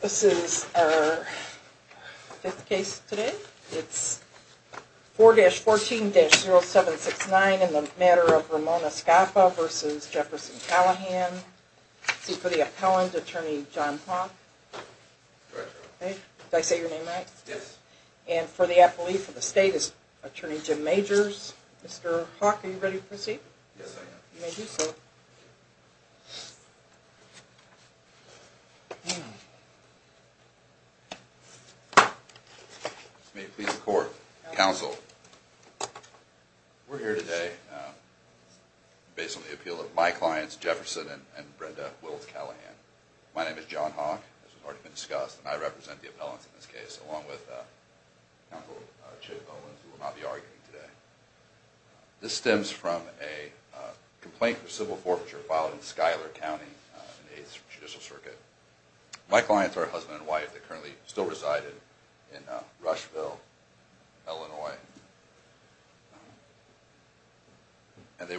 This is our fifth case today. It's 4-14-0769 in the Matter of Ramona Escapa v. Jefferson Callahan. Let's see, for the appellant, Attorney John Hawk. Did I say your name right? Yes. And for the appellee for the state is Attorney Jim Majors. Mr. Hawk, are you ready to proceed? Yes, I am. You may do so. May it please the court. Counsel, we're here today based on the appeal of my clients, Jefferson and Brenda Wills Callahan. My name is John Hawk, as has already been discussed, and I represent the appellants in this case, along with Counsel Chip Owens, who will not be arguing today. This stems from a complaint for civil forfeiture filed in Schuyler County in the 8th Judicial Circuit. My clients are a husband and wife that currently still reside in Rushville, Illinois. And they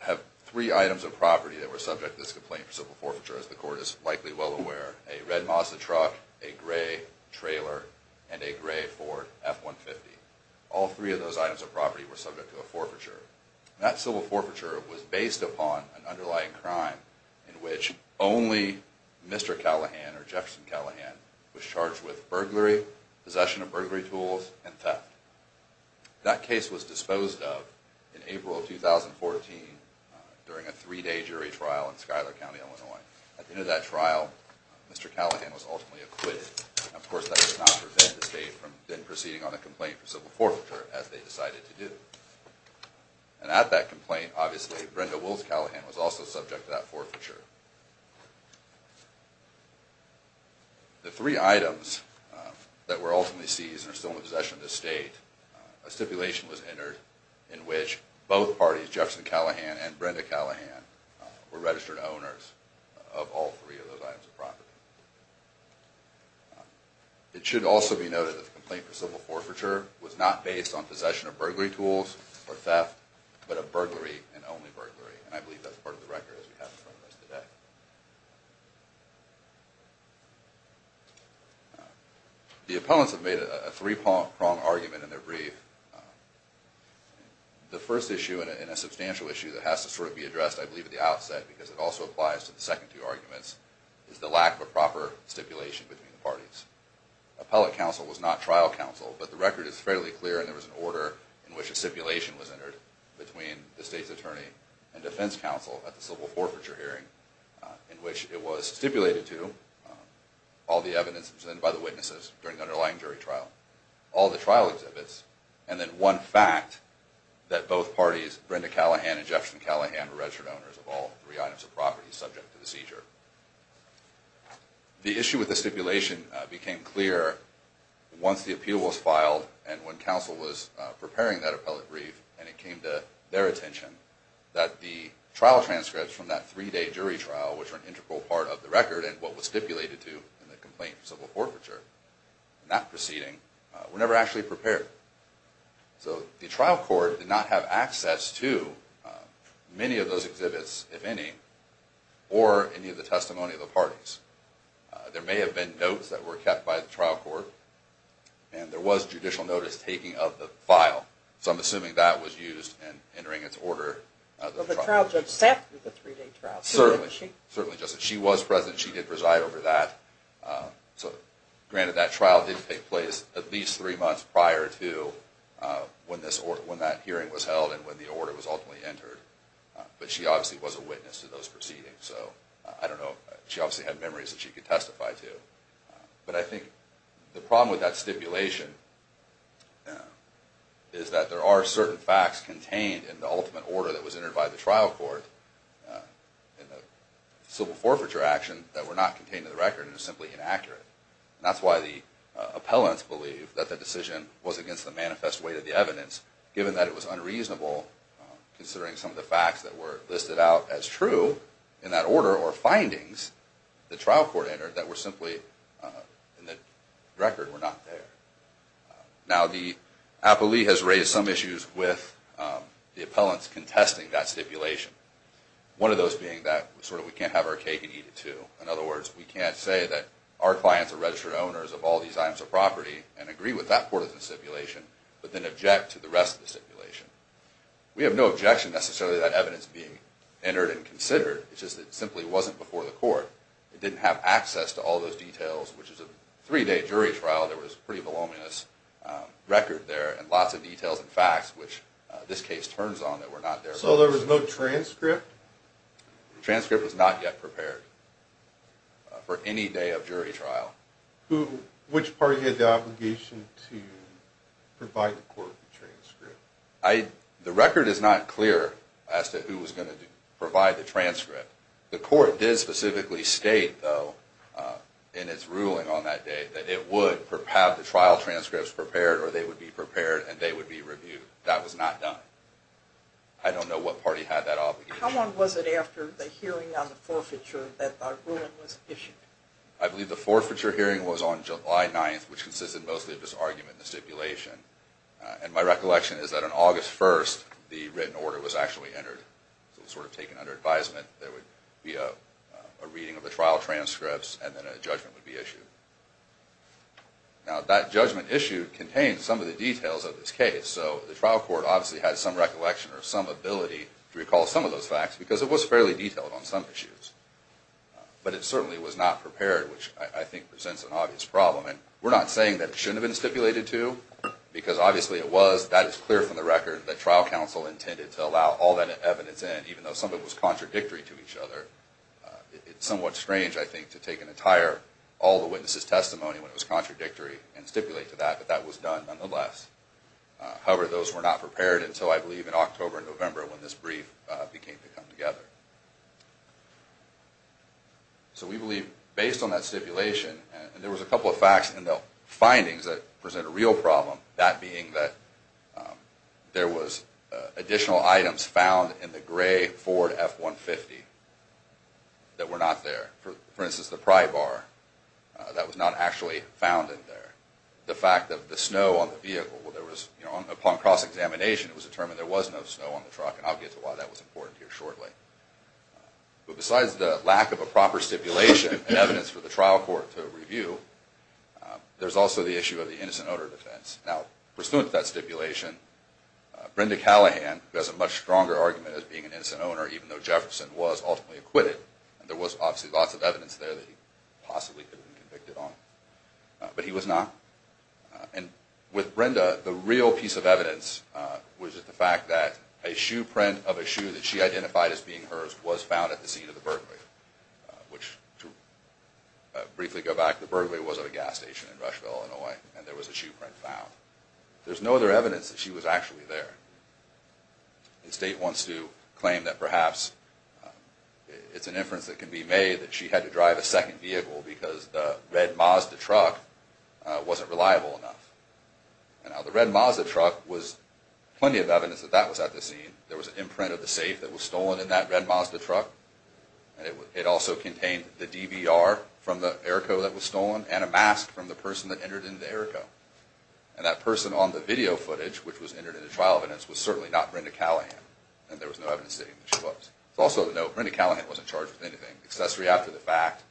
have three items of property that were subject to this complaint for civil forfeiture, as the court is likely well aware. A red Mazda truck, a gray trailer, and a gray Ford F-150. All three of those items of property were subject to a forfeiture. That civil forfeiture was based upon an underlying crime in which only Mr. Callahan, or Jefferson Callahan, was charged with burglary, possession of burglary tools, and theft. That case was disposed of in April of 2014 during a three-day jury trial in Schuyler County, Illinois. At the end of that trial, Mr. Callahan was ultimately acquitted. Of course, that did not prevent the state from then proceeding on a complaint for civil forfeiture, as they decided to do. And at that complaint, obviously, Brenda Wills Callahan was also subject to that forfeiture. The three items that were ultimately seized and are still in the possession of this state, a stipulation was entered in which both parties, Jefferson Callahan and Brenda Callahan, were registered owners of all three of those items of property. It should also be noted that the complaint for civil forfeiture was not based on possession of burglary tools or theft, but of burglary and only burglary. And I believe that's part of the record as we have in front of us today. The opponents have made a three-pronged argument in their brief. The first issue, and a substantial issue that has to sort of be addressed, I believe, at the outset, because it also applies to the second two arguments, is the lack of a proper stipulation between the parties. Appellate counsel was not trial counsel, but the record is fairly clear and there was an order in which a stipulation was entered between the state's attorney and defense counsel at the civil forfeiture hearing, in which it was stipulated to all the evidence presented by the witnesses during the underlying jury trial, all the trial exhibits, and then one fact that both parties, Brenda Callahan and Jefferson Callahan, were registered owners of all three items of property subject to the seizure. The issue with the stipulation became clear once the appeal was filed and when counsel was preparing that appellate brief and it came to their attention that the trial transcripts from that three-day jury trial, which are an integral part of the record and what was stipulated to in the complaint for civil forfeiture in that proceeding, were never actually prepared. So the trial court did not have access to many of those exhibits, if any, or any of the testimony of the parties. There may have been notes that were kept by the trial court and there was judicial notice taking of the file, so I'm assuming that was used in entering its order. Well, the trial judge sat through the three-day trial. Certainly, Justice. She was present. She did preside over that. Granted, that trial did take place at least three months prior to when that hearing was held and when the order was ultimately entered. But she obviously was a witness to those proceedings, so I don't know. She obviously had memories that she could testify to. But I think the problem with that stipulation is that there are certain facts contained in the ultimate order that was entered by the trial court in the civil forfeiture action that were not contained in the record and are simply inaccurate. That's why the appellants believe that the decision was against the manifest weight of the evidence, given that it was unreasonable, considering some of the facts that were listed out as true in that order or findings the trial court entered that were simply in the record were not there. Now, the appellee has raised some issues with the appellants contesting that stipulation. One of those being that we can't have our cake and eat it, too. In other words, we can't say that our clients are registered owners of all these items of property and agree with that part of the stipulation, but then object to the rest of the stipulation. We have no objection, necessarily, to that evidence being entered and considered. It's just that it simply wasn't before the court. It didn't have access to all those details, which is a three-day jury trial. There was a pretty voluminous record there and lots of details and facts, which this case turns on that were not there. So there was no transcript? The transcript was not yet prepared for any day of jury trial. Which party had the obligation to provide the court with the transcript? The record is not clear as to who was going to provide the transcript. The court did specifically state, though, in its ruling on that day that it would have the trial transcripts prepared or they would be prepared and they would be reviewed. That was not done. I don't know what party had that obligation. How long was it after the hearing on the forfeiture that the ruling was issued? I believe the forfeiture hearing was on July 9th, which consisted mostly of this argument and stipulation. And my recollection is that on August 1st, the written order was actually entered. It was sort of taken under advisement. There would be a reading of the trial transcripts and then a judgment would be issued. Now, that judgment issue contained some of the details of this case. So the trial court obviously had some recollection or some ability to recall some of those facts because it was fairly detailed on some issues. But it certainly was not prepared, which I think presents an obvious problem. And we're not saying that it shouldn't have been stipulated to because obviously it was. That is clear from the record that trial counsel intended to allow all that evidence in, even though some of it was contradictory to each other. It's somewhat strange, I think, to take and attire all the witnesses' testimony when it was contradictory and stipulate to that, but that was done nonetheless. However, those were not prepared until, I believe, in October and November, when this brief began to come together. So we believe, based on that stipulation, and there was a couple of facts in the findings that present a real problem, that being that there was additional items found in the gray Ford F-150 that were not there. For instance, the pry bar that was not actually found in there. The fact that the snow on the vehicle, upon cross-examination, it was determined there was no snow on the truck, and I'll get to why that was important here shortly. But besides the lack of a proper stipulation and evidence for the trial court to review, there's also the issue of the innocent owner defense. Now, pursuant to that stipulation, Brenda Callahan, who has a much stronger argument as being an innocent owner, even though Jefferson was ultimately acquitted, there was obviously lots of evidence there that he possibly could have been convicted on. But he was not. And with Brenda, the real piece of evidence was the fact that a shoe print of a shoe that she identified as being hers was found at the scene of the burglary. Which, to briefly go back, the burglary was at a gas station in Rushville, Illinois, and there was a shoe print found. There's no other evidence that she was actually there. The state wants to claim that perhaps it's an inference that can be made that she had to drive a second vehicle because the red Mazda truck wasn't reliable enough. Now, the red Mazda truck was plenty of evidence that that was at the scene. There was an imprint of the safe that was stolen in that red Mazda truck, and it also contained the DVR from the Airco that was stolen and a mask from the person that entered into the Airco. And that person on the video footage, which was entered into trial evidence, was certainly not Brenda Callahan, and there was no evidence stating that she was. Also, no, Brenda Callahan wasn't charged with anything. Accessory after the fact,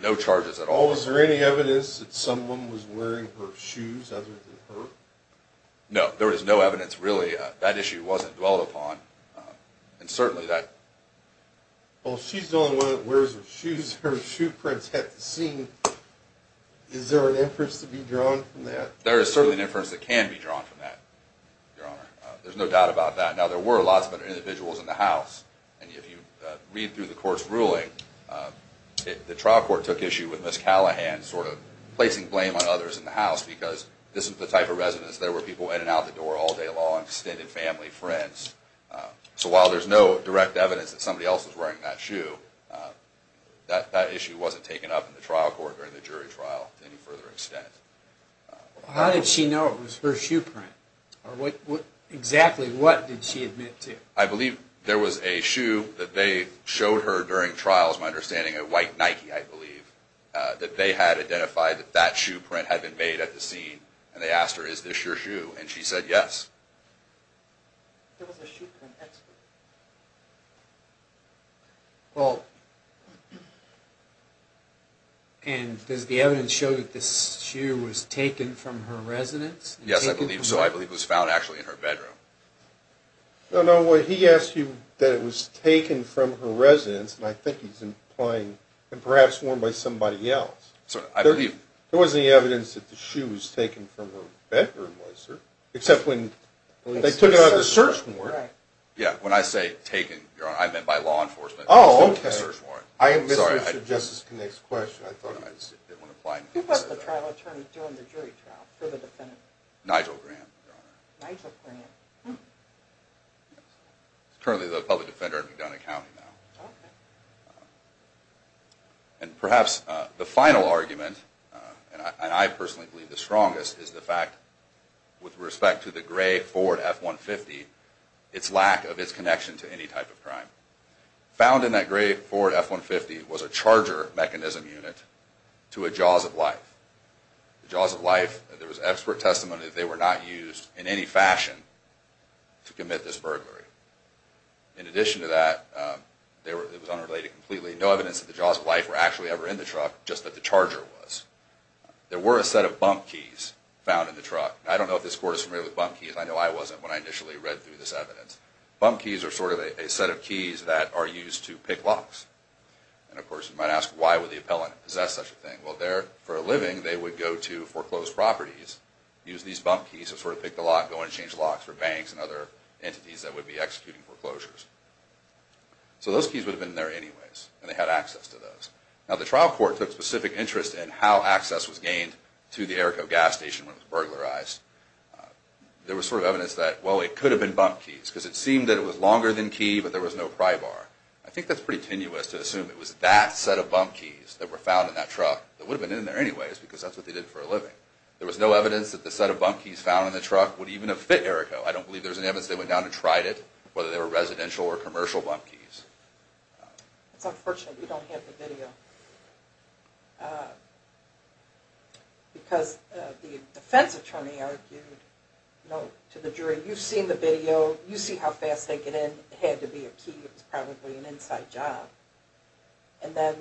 no charges at all. Was there any evidence that someone was wearing her shoes other than her? No, there was no evidence, really. That issue wasn't dwelt upon, and certainly that... Well, she's the only one that wears her shoes. Her shoe prints at the scene. Is there an inference to be drawn from that? There is certainly an inference that can be drawn from that, Your Honor. There's no doubt about that. Now, there were lots of other individuals in the house, and if you read through the court's ruling, the trial court took issue with Ms. Callahan sort of placing blame on others in the house because this is the type of residence. There were people in and out the door all day long, extended family, friends. So while there's no direct evidence that somebody else was wearing that shoe, that issue wasn't taken up in the trial court or in the jury trial to any further extent. How did she know it was her shoe print? Exactly what did she admit to? I believe there was a shoe that they showed her during trials, my understanding, a white Nike, I believe, that they had identified that that shoe print had been made at the scene, and they asked her, is this your shoe? And she said yes. There was a shoe print expert. Well, and does the evidence show that this shoe was taken from her residence? Yes, I believe so. I believe it was found actually in her bedroom. No, no, he asked you that it was taken from her residence, and I think he's implying it was perhaps worn by somebody else. I believe. There wasn't any evidence that the shoe was taken from her bedroom, was there? Except when they took it out of the search warrant. Yeah, when I say taken, Your Honor, I meant by law enforcement. Oh, okay. I'm sorry. I missed Mr. Justice Kinnick's question. Who was the trial attorney during the jury trial for the defendant? Nigel Graham, Your Honor. Nigel Graham. He's currently the public defender in McDonough County now. Okay. And perhaps the final argument, and I personally believe the strongest, is the fact with respect to the gray Ford F-150, its lack of its connection to any type of crime. Found in that gray Ford F-150 was a charger mechanism unit to a Jaws of Life. The Jaws of Life, there was expert testimony that they were not used in any fashion to commit this burglary. In addition to that, it was unrelated completely. No evidence that the Jaws of Life were actually ever in the truck, just that the charger was. There were a set of bump keys found in the truck. I don't know if this Court is familiar with bump keys. I know I wasn't when I initially read through this evidence. Bump keys are sort of a set of keys that are used to pick locks. And, of course, you might ask, why would the appellant possess such a thing? Well, for a living, they would go to foreclosed properties, use these bump keys to sort of pick the lock, go in and change the locks for banks and other entities that would be executing foreclosures. So those keys would have been there anyways, and they had access to those. Now, the trial court took specific interest in how access was gained to the Airco gas station when it was burglarized. There was sort of evidence that, well, it could have been bump keys because it seemed that it was longer than key, but there was no pry bar. I think that's pretty tenuous to assume it was that set of bump keys that were found in that truck that would have been in there anyways because that's what they did for a living. There was no evidence that the set of bump keys found in the truck would even have fit Airco. I don't believe there was any evidence they went down and tried it, whether they were residential or commercial bump keys. It's unfortunate you don't have the video because the defense attorney argued to the jury, you've seen the video, you see how fast they get in, it had to be a key. It was probably an inside job. And then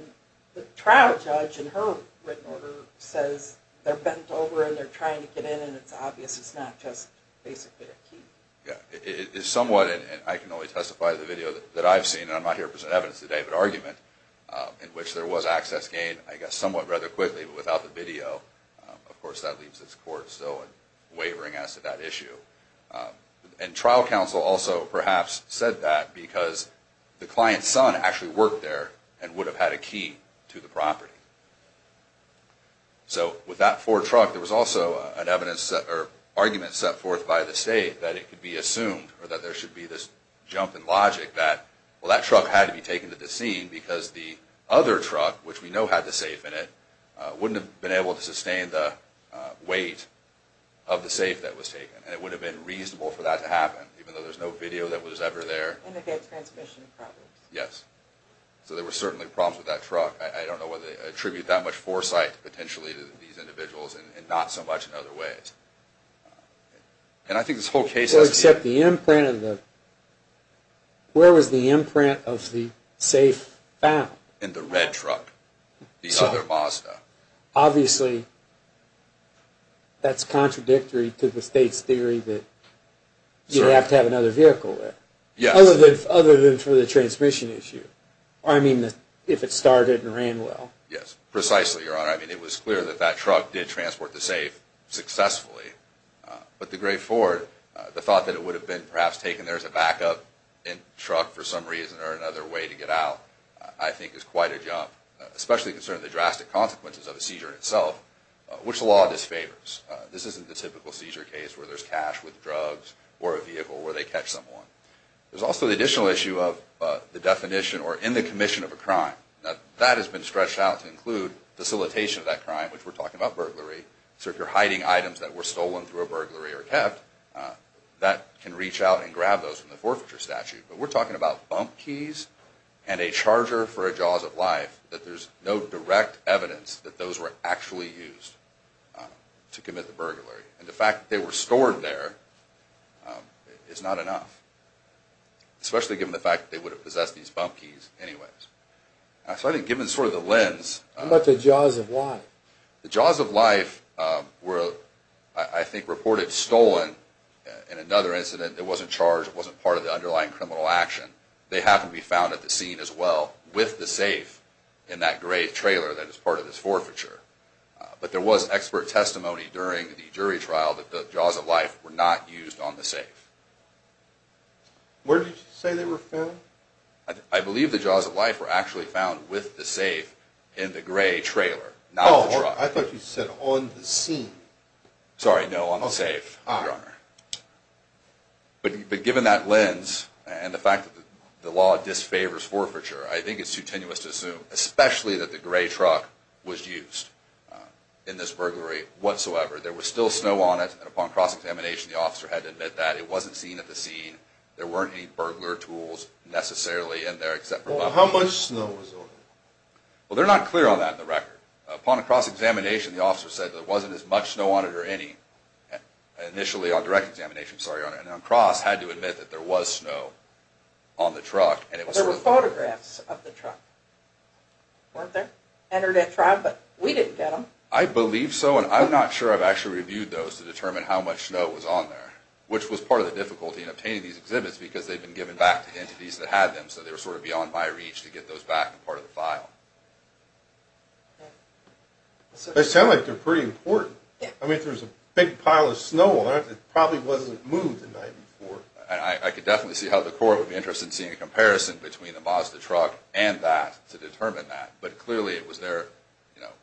the trial judge in her written order says they're bent over and they're trying to get in and it's obvious it's not just basically a key. It is somewhat, and I can only testify to the video that I've seen, and I'm not here to present evidence today, but argument in which there was access gained, I guess somewhat rather quickly, but without the video, of course that leaves this court still in wavering as to that issue. And trial counsel also perhaps said that because the client's son actually worked there and would have had a key to the property. So with that Ford truck, there was also an argument set forth by the state that it could be assumed, or that there should be this jump in logic, that that truck had to be taken to the scene because the other truck, which we know had the safe in it, wouldn't have been able to sustain the weight of the safe that was taken. And it would have been reasonable for that to happen, even though there's no video that was ever there. And it had transmission problems. Yes. So there were certainly problems with that truck. I don't know whether they attribute that much foresight potentially to these individuals and not so much in other ways. And I think this whole case has to be... Well, except the imprint of the... Where was the imprint of the safe found? In the red truck, the other Mazda. Obviously, that's contradictory to the state's theory that you have to have another vehicle there. Yes. Other than for the transmission issue. I mean, if it started and ran well. Yes, precisely, Your Honor. I mean, it was clear that that truck did transport the safe successfully. But the gray Ford, the thought that it would have been perhaps taken there as a backup truck for some reason or another way to get out, I think is quite a jump, especially concerning the drastic consequences of a seizure itself, which the law disfavors. This isn't the typical seizure case where there's cash with drugs or a vehicle where they catch someone. There's also the additional issue of the definition or in the commission of a crime. Now, that has been stretched out to include facilitation of that crime, which we're talking about burglary. So if you're hiding items that were stolen through a burglary or kept, that can reach out and grab those from the forfeiture statute. But we're talking about bump keys and a charger for a Jaws of Life, that there's no direct evidence that those were actually used to commit the burglary. And the fact that they were stored there is not enough, especially given the fact that they would have possessed these bump keys anyways. So I think given sort of the lens. What about the Jaws of Life? The Jaws of Life were, I think, reported stolen in another incident. It wasn't charged. It wasn't part of the underlying criminal action. They happened to be found at the scene as well with the safe in that gray trailer that is part of this forfeiture. But there was expert testimony during the jury trial that the Jaws of Life were not used on the safe. Where did you say they were found? I believe the Jaws of Life were actually found with the safe in the gray trailer, not the truck. Oh, I thought you said on the scene. Sorry, no, on the safe, Your Honor. But given that lens and the fact that the law disfavors forfeiture, I think it's too tenuous to assume, especially that the gray truck was used in this burglary whatsoever. There was still snow on it. And upon cross-examination, the officer had to admit that it wasn't seen at the scene. There weren't any burglar tools necessarily in there except for bump keys. Well, how much snow was on it? Well, they're not clear on that in the record. Upon cross-examination, the officer said there wasn't as much snow on it or any. Initially on direct examination, sorry, Your Honor, and then on cross, had to admit that there was snow on the truck. There were photographs of the truck, weren't there? Entered that trial, but we didn't get them. I believe so, and I'm not sure I've actually reviewed those to determine how much snow was on there, which was part of the difficulty in obtaining these exhibits because they'd been given back to the entities that had them, so they were sort of beyond my reach to get those back and part of the file. They sound like they're pretty important. I mean, if there was a big pile of snow on it, it probably wasn't moved the night before. I could definitely see how the court would be interested in seeing a comparison between the Mazda truck and that to determine that. But clearly it was there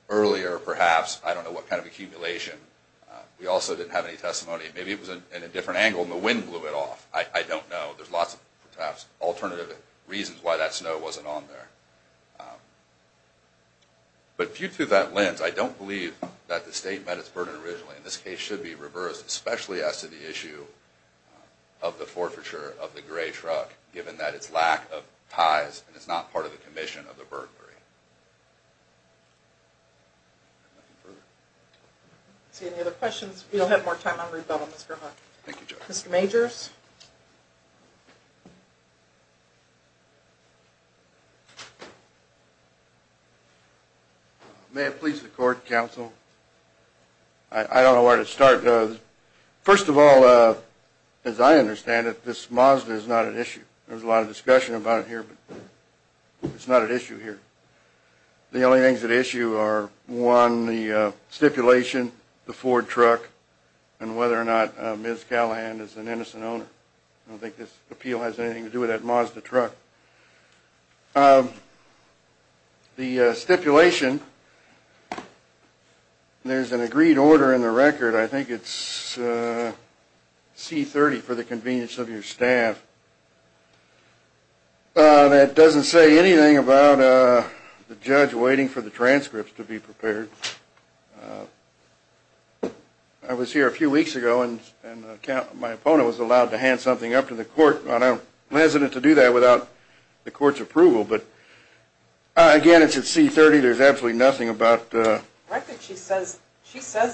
earlier, perhaps. I don't know what kind of accumulation. We also didn't have any testimony. Maybe it was at a different angle and the wind blew it off. I don't know. There's lots of, perhaps, alternative reasons why that snow wasn't on there. But viewed through that lens, I don't believe that the state met its burden originally, and this case should be reversed, especially as to the issue of the forfeiture of the gray truck, given that it's lack of ties and it's not part of the commission of the burglary. Anything further? I don't see any other questions. We'll have more time on rebuttal, Mr. Hunt. Thank you, Judge. Mr. Majors? May it please the court, counsel? I don't know where to start. First of all, as I understand it, this Mazda is not at issue. There was a lot of discussion about it here, but it's not at issue here. The only things at issue are, one, the stipulation, the Ford truck, and whether or not Ms. Callahan is an innocent owner. I don't think this appeal has anything to do with that Mazda truck. The stipulation, there's an agreed order in the record. I think it's C-30 for the convenience of your staff. That doesn't say anything about the judge waiting for the transcripts to be prepared. I was here a few weeks ago, and my opponent was allowed to hand something up to the court. I'm hesitant to do that without the court's approval. But, again, it's at C-30. There's absolutely nothing about it. I think she says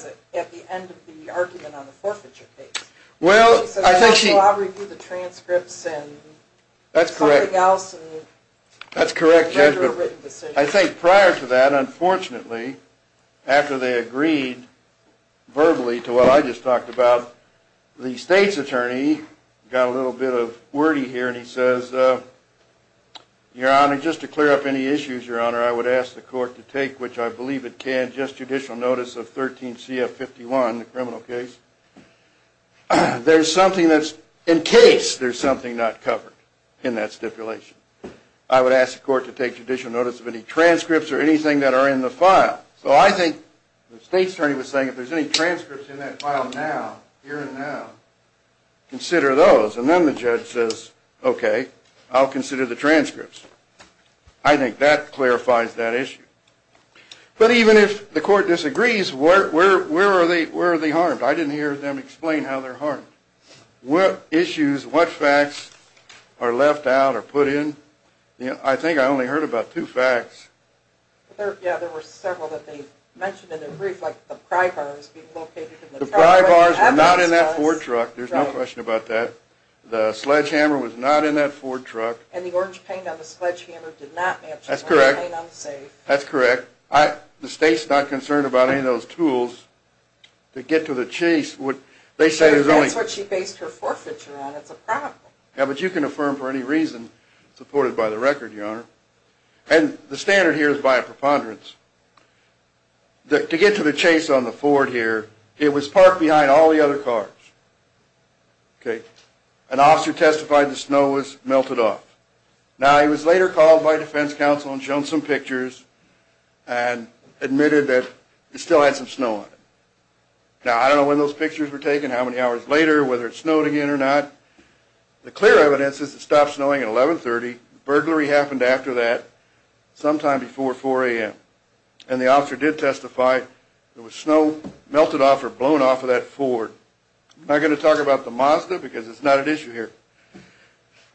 it at the end of the argument on the forfeiture case. Well, I think she… She said, well, I'll review the transcripts and something else. That's correct, Judge, but I think prior to that, unfortunately, after they agreed verbally to what I just talked about, the state's attorney got a little bit of wordy here, and he says, Your Honor, just to clear up any issues, Your Honor, I would ask the court to take, which I believe it can, just judicial notice of 13 CF-51, the criminal case. There's something that's… In case there's something not covered in that stipulation, I would ask the court to take judicial notice of any transcripts or anything that are in the file. So I think the state's attorney was saying if there's any transcripts in that file now, here and now, consider those. And then the judge says, Okay, I'll consider the transcripts. I think that clarifies that issue. But even if the court disagrees, where are they harmed? I didn't hear them explain how they're harmed. What issues, what facts are left out or put in? I think I only heard about two facts. Yeah, there were several that they mentioned in their brief, like the pry bars being located in the trunk. The pry bars were not in that Ford truck. There's no question about that. The sledgehammer was not in that Ford truck. And the orange paint on the sledgehammer did not match That's correct. That's correct. The state's not concerned about any of those tools. To get to the chase, they say there's only That's what she based her forfeiture on. It's a problem. Yeah, but you can affirm for any reason supported by the record, Your Honor. And the standard here is by a preponderance. To get to the chase on the Ford here, it was parked behind all the other cars. An officer testified the snow was melted off. Now, he was later called by defense counsel and shown some pictures and admitted that it still had some snow on it. Now, I don't know when those pictures were taken, how many hours later, whether it snowed again or not. The clear evidence is it stopped snowing at 1130. Burglary happened after that, sometime before 4 a.m. And the officer did testify there was snow melted off or blown off of that Ford. I'm not going to talk about the Mazda because it's not an issue here.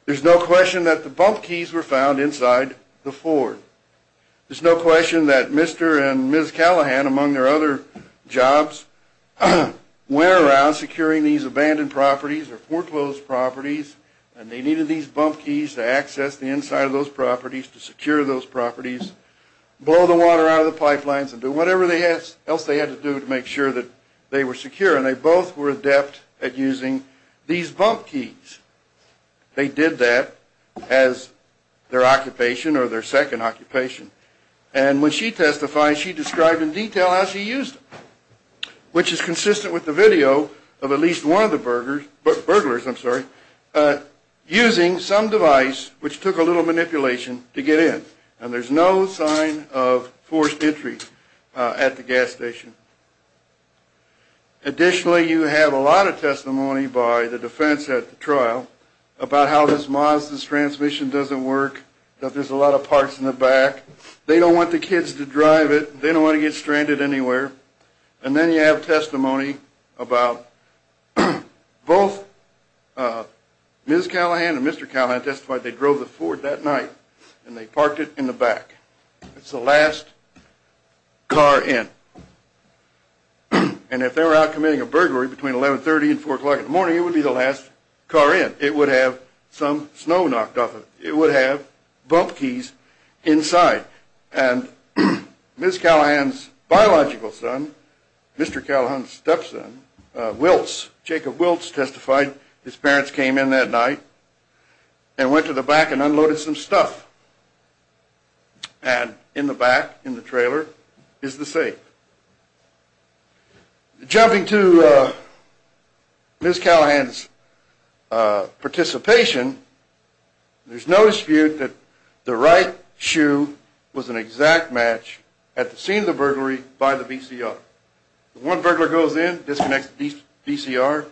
There's no question that the bump keys were found inside the Ford. There's no question that Mr. and Ms. Callahan, among their other jobs, went around securing these abandoned properties or foreclosed properties. And they needed these bump keys to access the inside of those properties, to secure those properties, blow the water out of the pipelines and do whatever else they had to do to make sure that they were secure. And they both were adept at using these bump keys. They did that as their occupation or their second occupation. And when she testified, she described in detail how she used them, which is consistent with the video of at least one of the burglars using some device which took a little manipulation to get in. And there's no sign of forced entry at the gas station. Additionally, you have a lot of testimony by the defense at the trial about how this Mazda's transmission doesn't work, that there's a lot of parts in the back. They don't want the kids to drive it. They don't want to get stranded anywhere. And then you have testimony about both Ms. Callahan and Mr. Callahan testified that they drove the Ford that night and they parked it in the back. It's the last car in. And if they were out committing a burglary between 1130 and 4 o'clock in the morning, it would be the last car in. It would have some snow knocked off of it. It would have bump keys inside. And Ms. Callahan's biological son, Mr. Callahan's stepson, Wiltz, Jacob Wiltz testified, his parents came in that night and went to the back and unloaded some stuff. And in the back, in the trailer, is the safe. Jumping to Ms. Callahan's participation, there's no dispute that the right shoe was an exact match at the scene of the burglary by the VCR. The one burglar goes in, disconnects the VCR.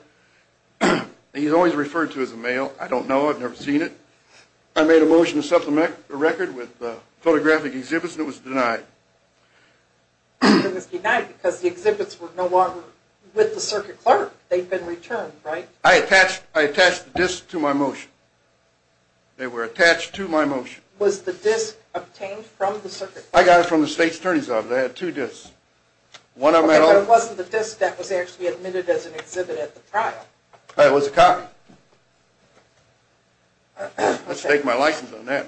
He's always referred to as a male. I don't know. I've never seen it. I made a motion to supplement the record with photographic exhibits and it was denied. It was denied because the exhibits were no longer with the circuit clerk. They'd been returned, right? I attached the disks to my motion. They were attached to my motion. Was the disk obtained from the circuit clerk? I got it from the state's attorney's office. I had two disks. But it wasn't the disk that was actually admitted as an exhibit at the trial. It was a copy. Let's take my license on that.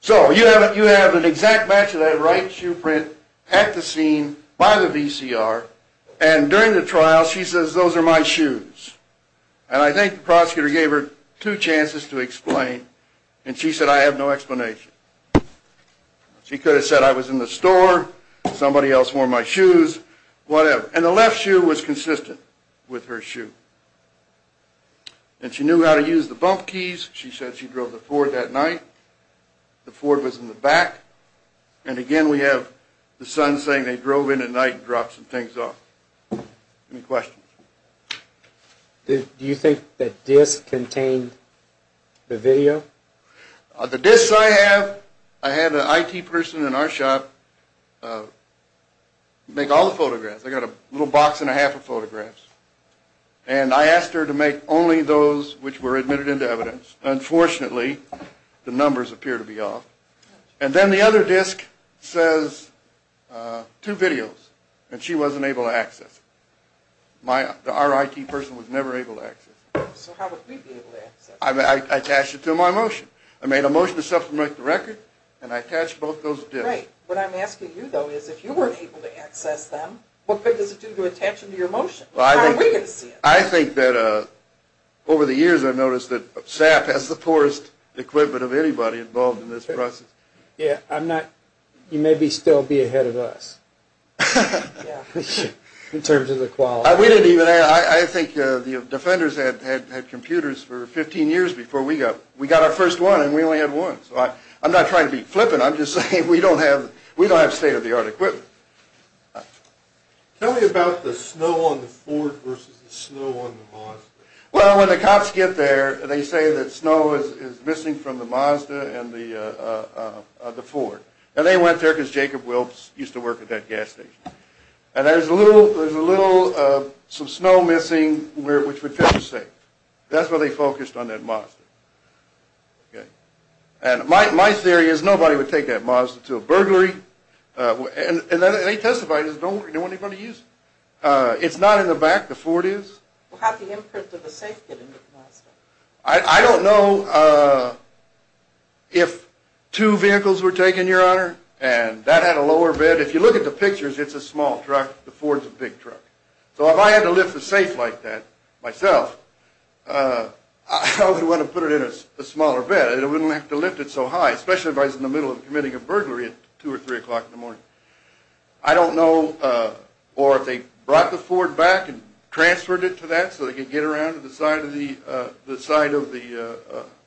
So you have an exact match of that right shoe print at the scene by the VCR. And during the trial, she says, those are my shoes. And I think the prosecutor gave her two chances to explain. And she said, I have no explanation. She could have said I was in the store. Somebody else wore my shoes. Whatever. And the left shoe was consistent with her shoe. And she knew how to use the bump keys. She said she drove the Ford that night. The Ford was in the back. And, again, we have the son saying they drove in at night and dropped some things off. Any questions? Do you think the disk contained the video? The disks I have, I had an IT person in our shop make all the photographs. I got a little box and a half of photographs. And I asked her to make only those which were admitted into evidence. Unfortunately, the numbers appear to be off. And then the other disk says two videos. And she wasn't able to access it. The RIT person was never able to access it. So how would we be able to access it? I attached it to my motion. I made a motion to supplement the record. And I attached both those disks. What I'm asking you, though, is if you weren't able to access them, what good does it do to attach them to your motion? How are we going to see it? I think that over the years I've noticed that SAP has the poorest equipment of anybody involved in this process. You may still be ahead of us in terms of the quality. I think the defenders had computers for 15 years before we got our first one. And we only had one. So I'm not trying to be flippant. I'm just saying we don't have state-of-the-art equipment. Tell me about the snow on the Ford versus the snow on the Mazda. Well, when the cops get there, they say that snow is missing from the Mazda and the Ford. And they went there because Jacob Wilkes used to work at that gas station. And there's a little snow missing which would fit the safe. That's why they focused on that Mazda. And my theory is nobody would take that Mazda to a burglary. And they testified that nobody would use it. It's not in the back. The Ford is. How did the input to the safe get into the Mazda? I don't know if two vehicles were taken, Your Honor. And that had a lower bed. If you look at the pictures, it's a small truck. The Ford's a big truck. So if I had to lift the safe like that myself, I would want to put it in a smaller bed. I wouldn't have to lift it so high, especially if I was in the middle of committing a burglary at 2 or 3 o'clock in the morning. I don't know if they brought the Ford back and transferred it to that so they could get around to the side of the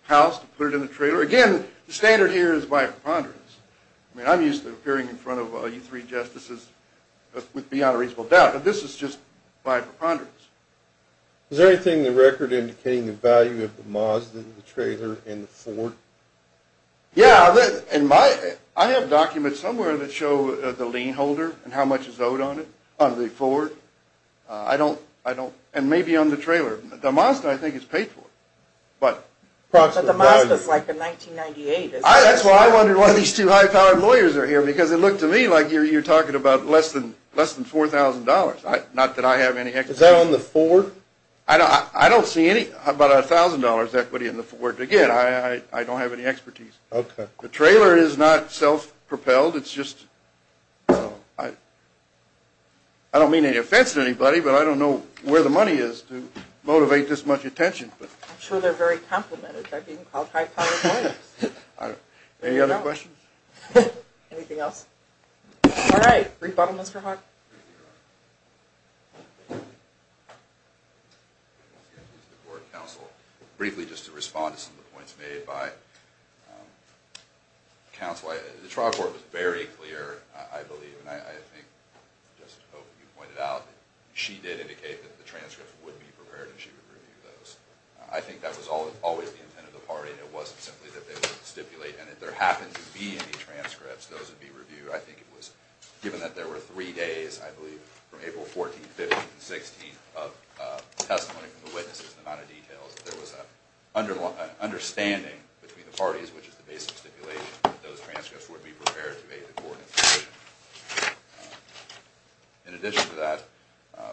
house to put it in the trailer. Again, the standard here is by preponderance. I mean, I'm used to appearing in front of you three justices with beyond a reasonable doubt. But this is just by preponderance. Is there anything in the record indicating the value of the Mazda in the trailer and the Ford? Yeah. I have documents somewhere that show the lien holder and how much is owed on it, on the Ford. And maybe on the trailer. The Mazda, I think, is paid for. But the Mazda's like a 1998. That's why I wondered why these two high-powered lawyers are here, because it looked to me like you're talking about less than $4,000. Not that I have any expertise. Is that on the Ford? I don't see about $1,000 equity in the Ford. Again, I don't have any expertise. Okay. The trailer is not self-propelled. I don't mean any offense to anybody, but I don't know where the money is to motivate this much attention. I'm sure they're very complimented by being called high-powered lawyers. Any other questions? Anything else? All right. Rebuttal, Mr. Haack. Briefly, just to respond to some of the points made by counsel, the trial court was very clear, I believe, and I think, Justice DeFoe, you pointed out, she did indicate that the transcripts would be prepared and she would review those. I think that was always the intent of the party, and it wasn't simply that they would stipulate, and if there happened to be any transcripts, those would be reviewed. I think it was given that there were three days, I believe, from April 14th, 15th, and 16th, of testimony from the witnesses and the amount of details, that there was an understanding between the parties, which is the basic stipulation, that those transcripts would be prepared to aid the court in its decision. In addition to that,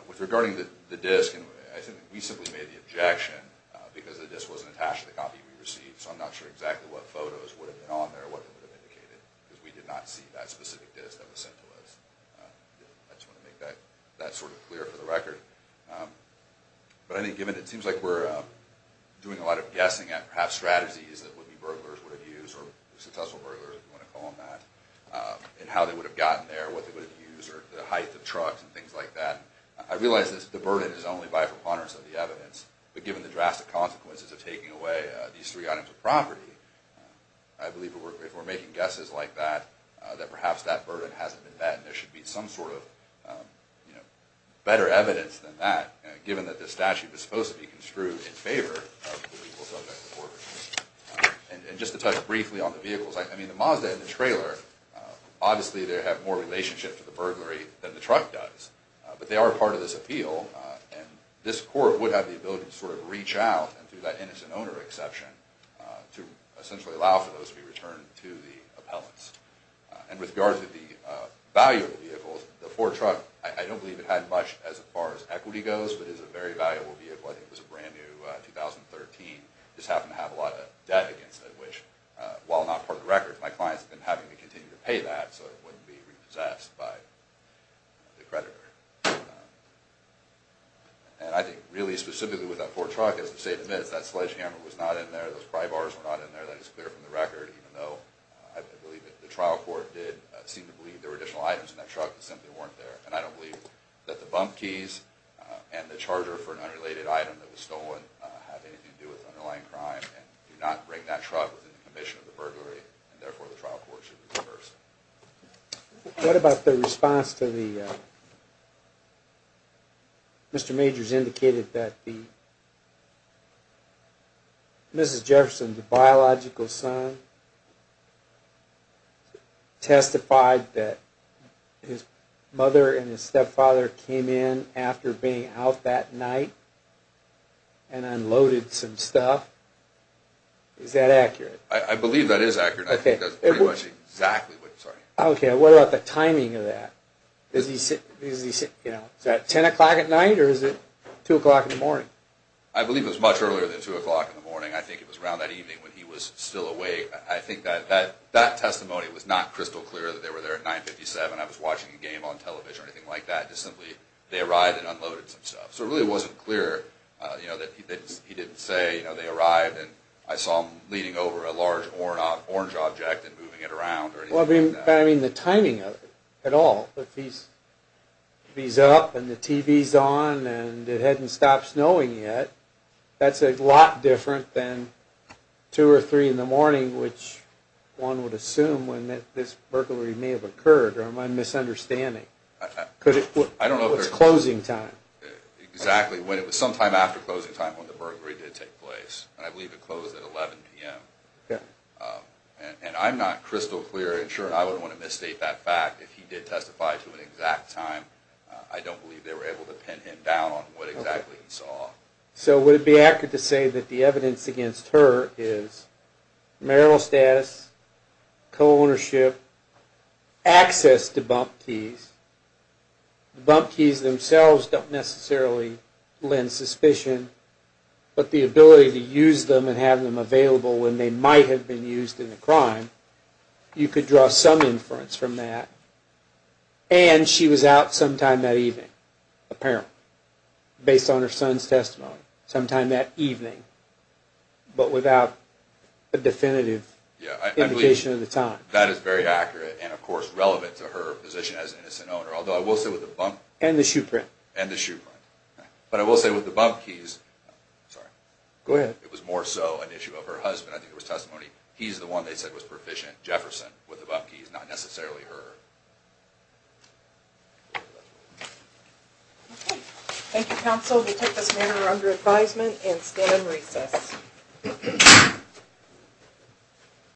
with regarding the disk, I think we simply made the objection because the disk wasn't attached to the copy we received, so I'm not sure exactly what photos would have been on there or what they would have indicated, because we did not see that specific disk that was sent to us. I just want to make that sort of clear for the record. It seems like we're doing a lot of guessing at perhaps strategies that would-be burglars would have used, or successful burglars, if you want to call them that, and how they would have gotten there, what they would have used, or the height of the trucks and things like that. I realize that the burden is only by a preponderance of the evidence, but given the drastic consequences of taking away these three items of property, I believe if we're making guesses like that, that perhaps that burden hasn't been met and there should be some sort of better evidence than that, given that this statute was supposed to be construed in favor of the legal subject of the court. And just to touch briefly on the vehicles, I mean the Mazda and the trailer, obviously they have more relationship to the burglary than the truck does, but they are part of this appeal, and this court would have the ability to sort of reach out, and through that innocent owner exception, to essentially allow for those to be returned to the appellants. And with regards to the value of the vehicles, the Ford truck, I don't believe it had much as far as equity goes, but it is a very valuable vehicle. I think it was a brand new 2013, just happened to have a lot of debt against it, which, while not part of the record, my clients have been having to continue to pay that, so it wouldn't be repossessed by the creditor. And I think really specifically with that Ford truck, as the state admits, that sledgehammer was not in there, those pry bars were not in there, that is clear from the record, even though I believe that the trial court did seem to believe there were additional items in that truck that simply weren't there. And I don't believe that the bump keys and the charger for an unrelated item that was stolen had anything to do with the underlying crime, and do not bring that truck within the commission of the burglary, and therefore the trial court should reverse it. What about the response to the... Mr. Majors indicated that the... Mrs. Jefferson's biological son testified that his mother and his stepfather came in after being out that night and unloaded some stuff. Is that accurate? I believe that is accurate. I think that's pretty much exactly what... Okay, what about the timing of that? Is it 10 o'clock at night, or is it 2 o'clock in the morning? I believe it was much earlier than 2 o'clock in the morning. I think it was around that evening when he was still awake. I think that that testimony was not crystal clear that they were there at 957. I was watching a game on television or anything like that. Just simply, they arrived and unloaded some stuff. So it really wasn't clear that he didn't say they arrived, and I saw them leading over a large orange object and moving it around. Well, I mean, the timing of it, at all. The TV's up, and the TV's on, and it hadn't stopped snowing yet. That's a lot different than 2 or 3 in the morning, which one would assume when this burglary may have occurred, or my misunderstanding. I don't know... It was closing time. Exactly. It was sometime after closing time when the burglary did take place. And I believe it closed at 11 p.m. And I'm not crystal clear. And sure, I wouldn't want to misstate that fact. If he did testify to an exact time, I don't believe they were able to pin him down on what exactly he saw. So would it be accurate to say that the evidence against her is marital status, co-ownership, access to bump keys. The bump keys themselves don't necessarily lend suspicion. But the ability to use them and have them available when they might have been used in a crime, you could draw some inference from that. And she was out sometime that evening, apparently. Based on her son's testimony. Sometime that evening. But without a definitive indication of the time. Yeah, I believe that is very accurate, and of course relevant to her position as an innocent owner. Although I will say with the bump... And the shoe print. And the shoe print. But I will say with the bump keys... Sorry. Go ahead. It was more so an issue of her husband. I think it was testimony. He's the one they said was proficient. Jefferson. With the bump keys. Not necessarily her. Thank you, counsel. We take this matter under advisement and stand in recess.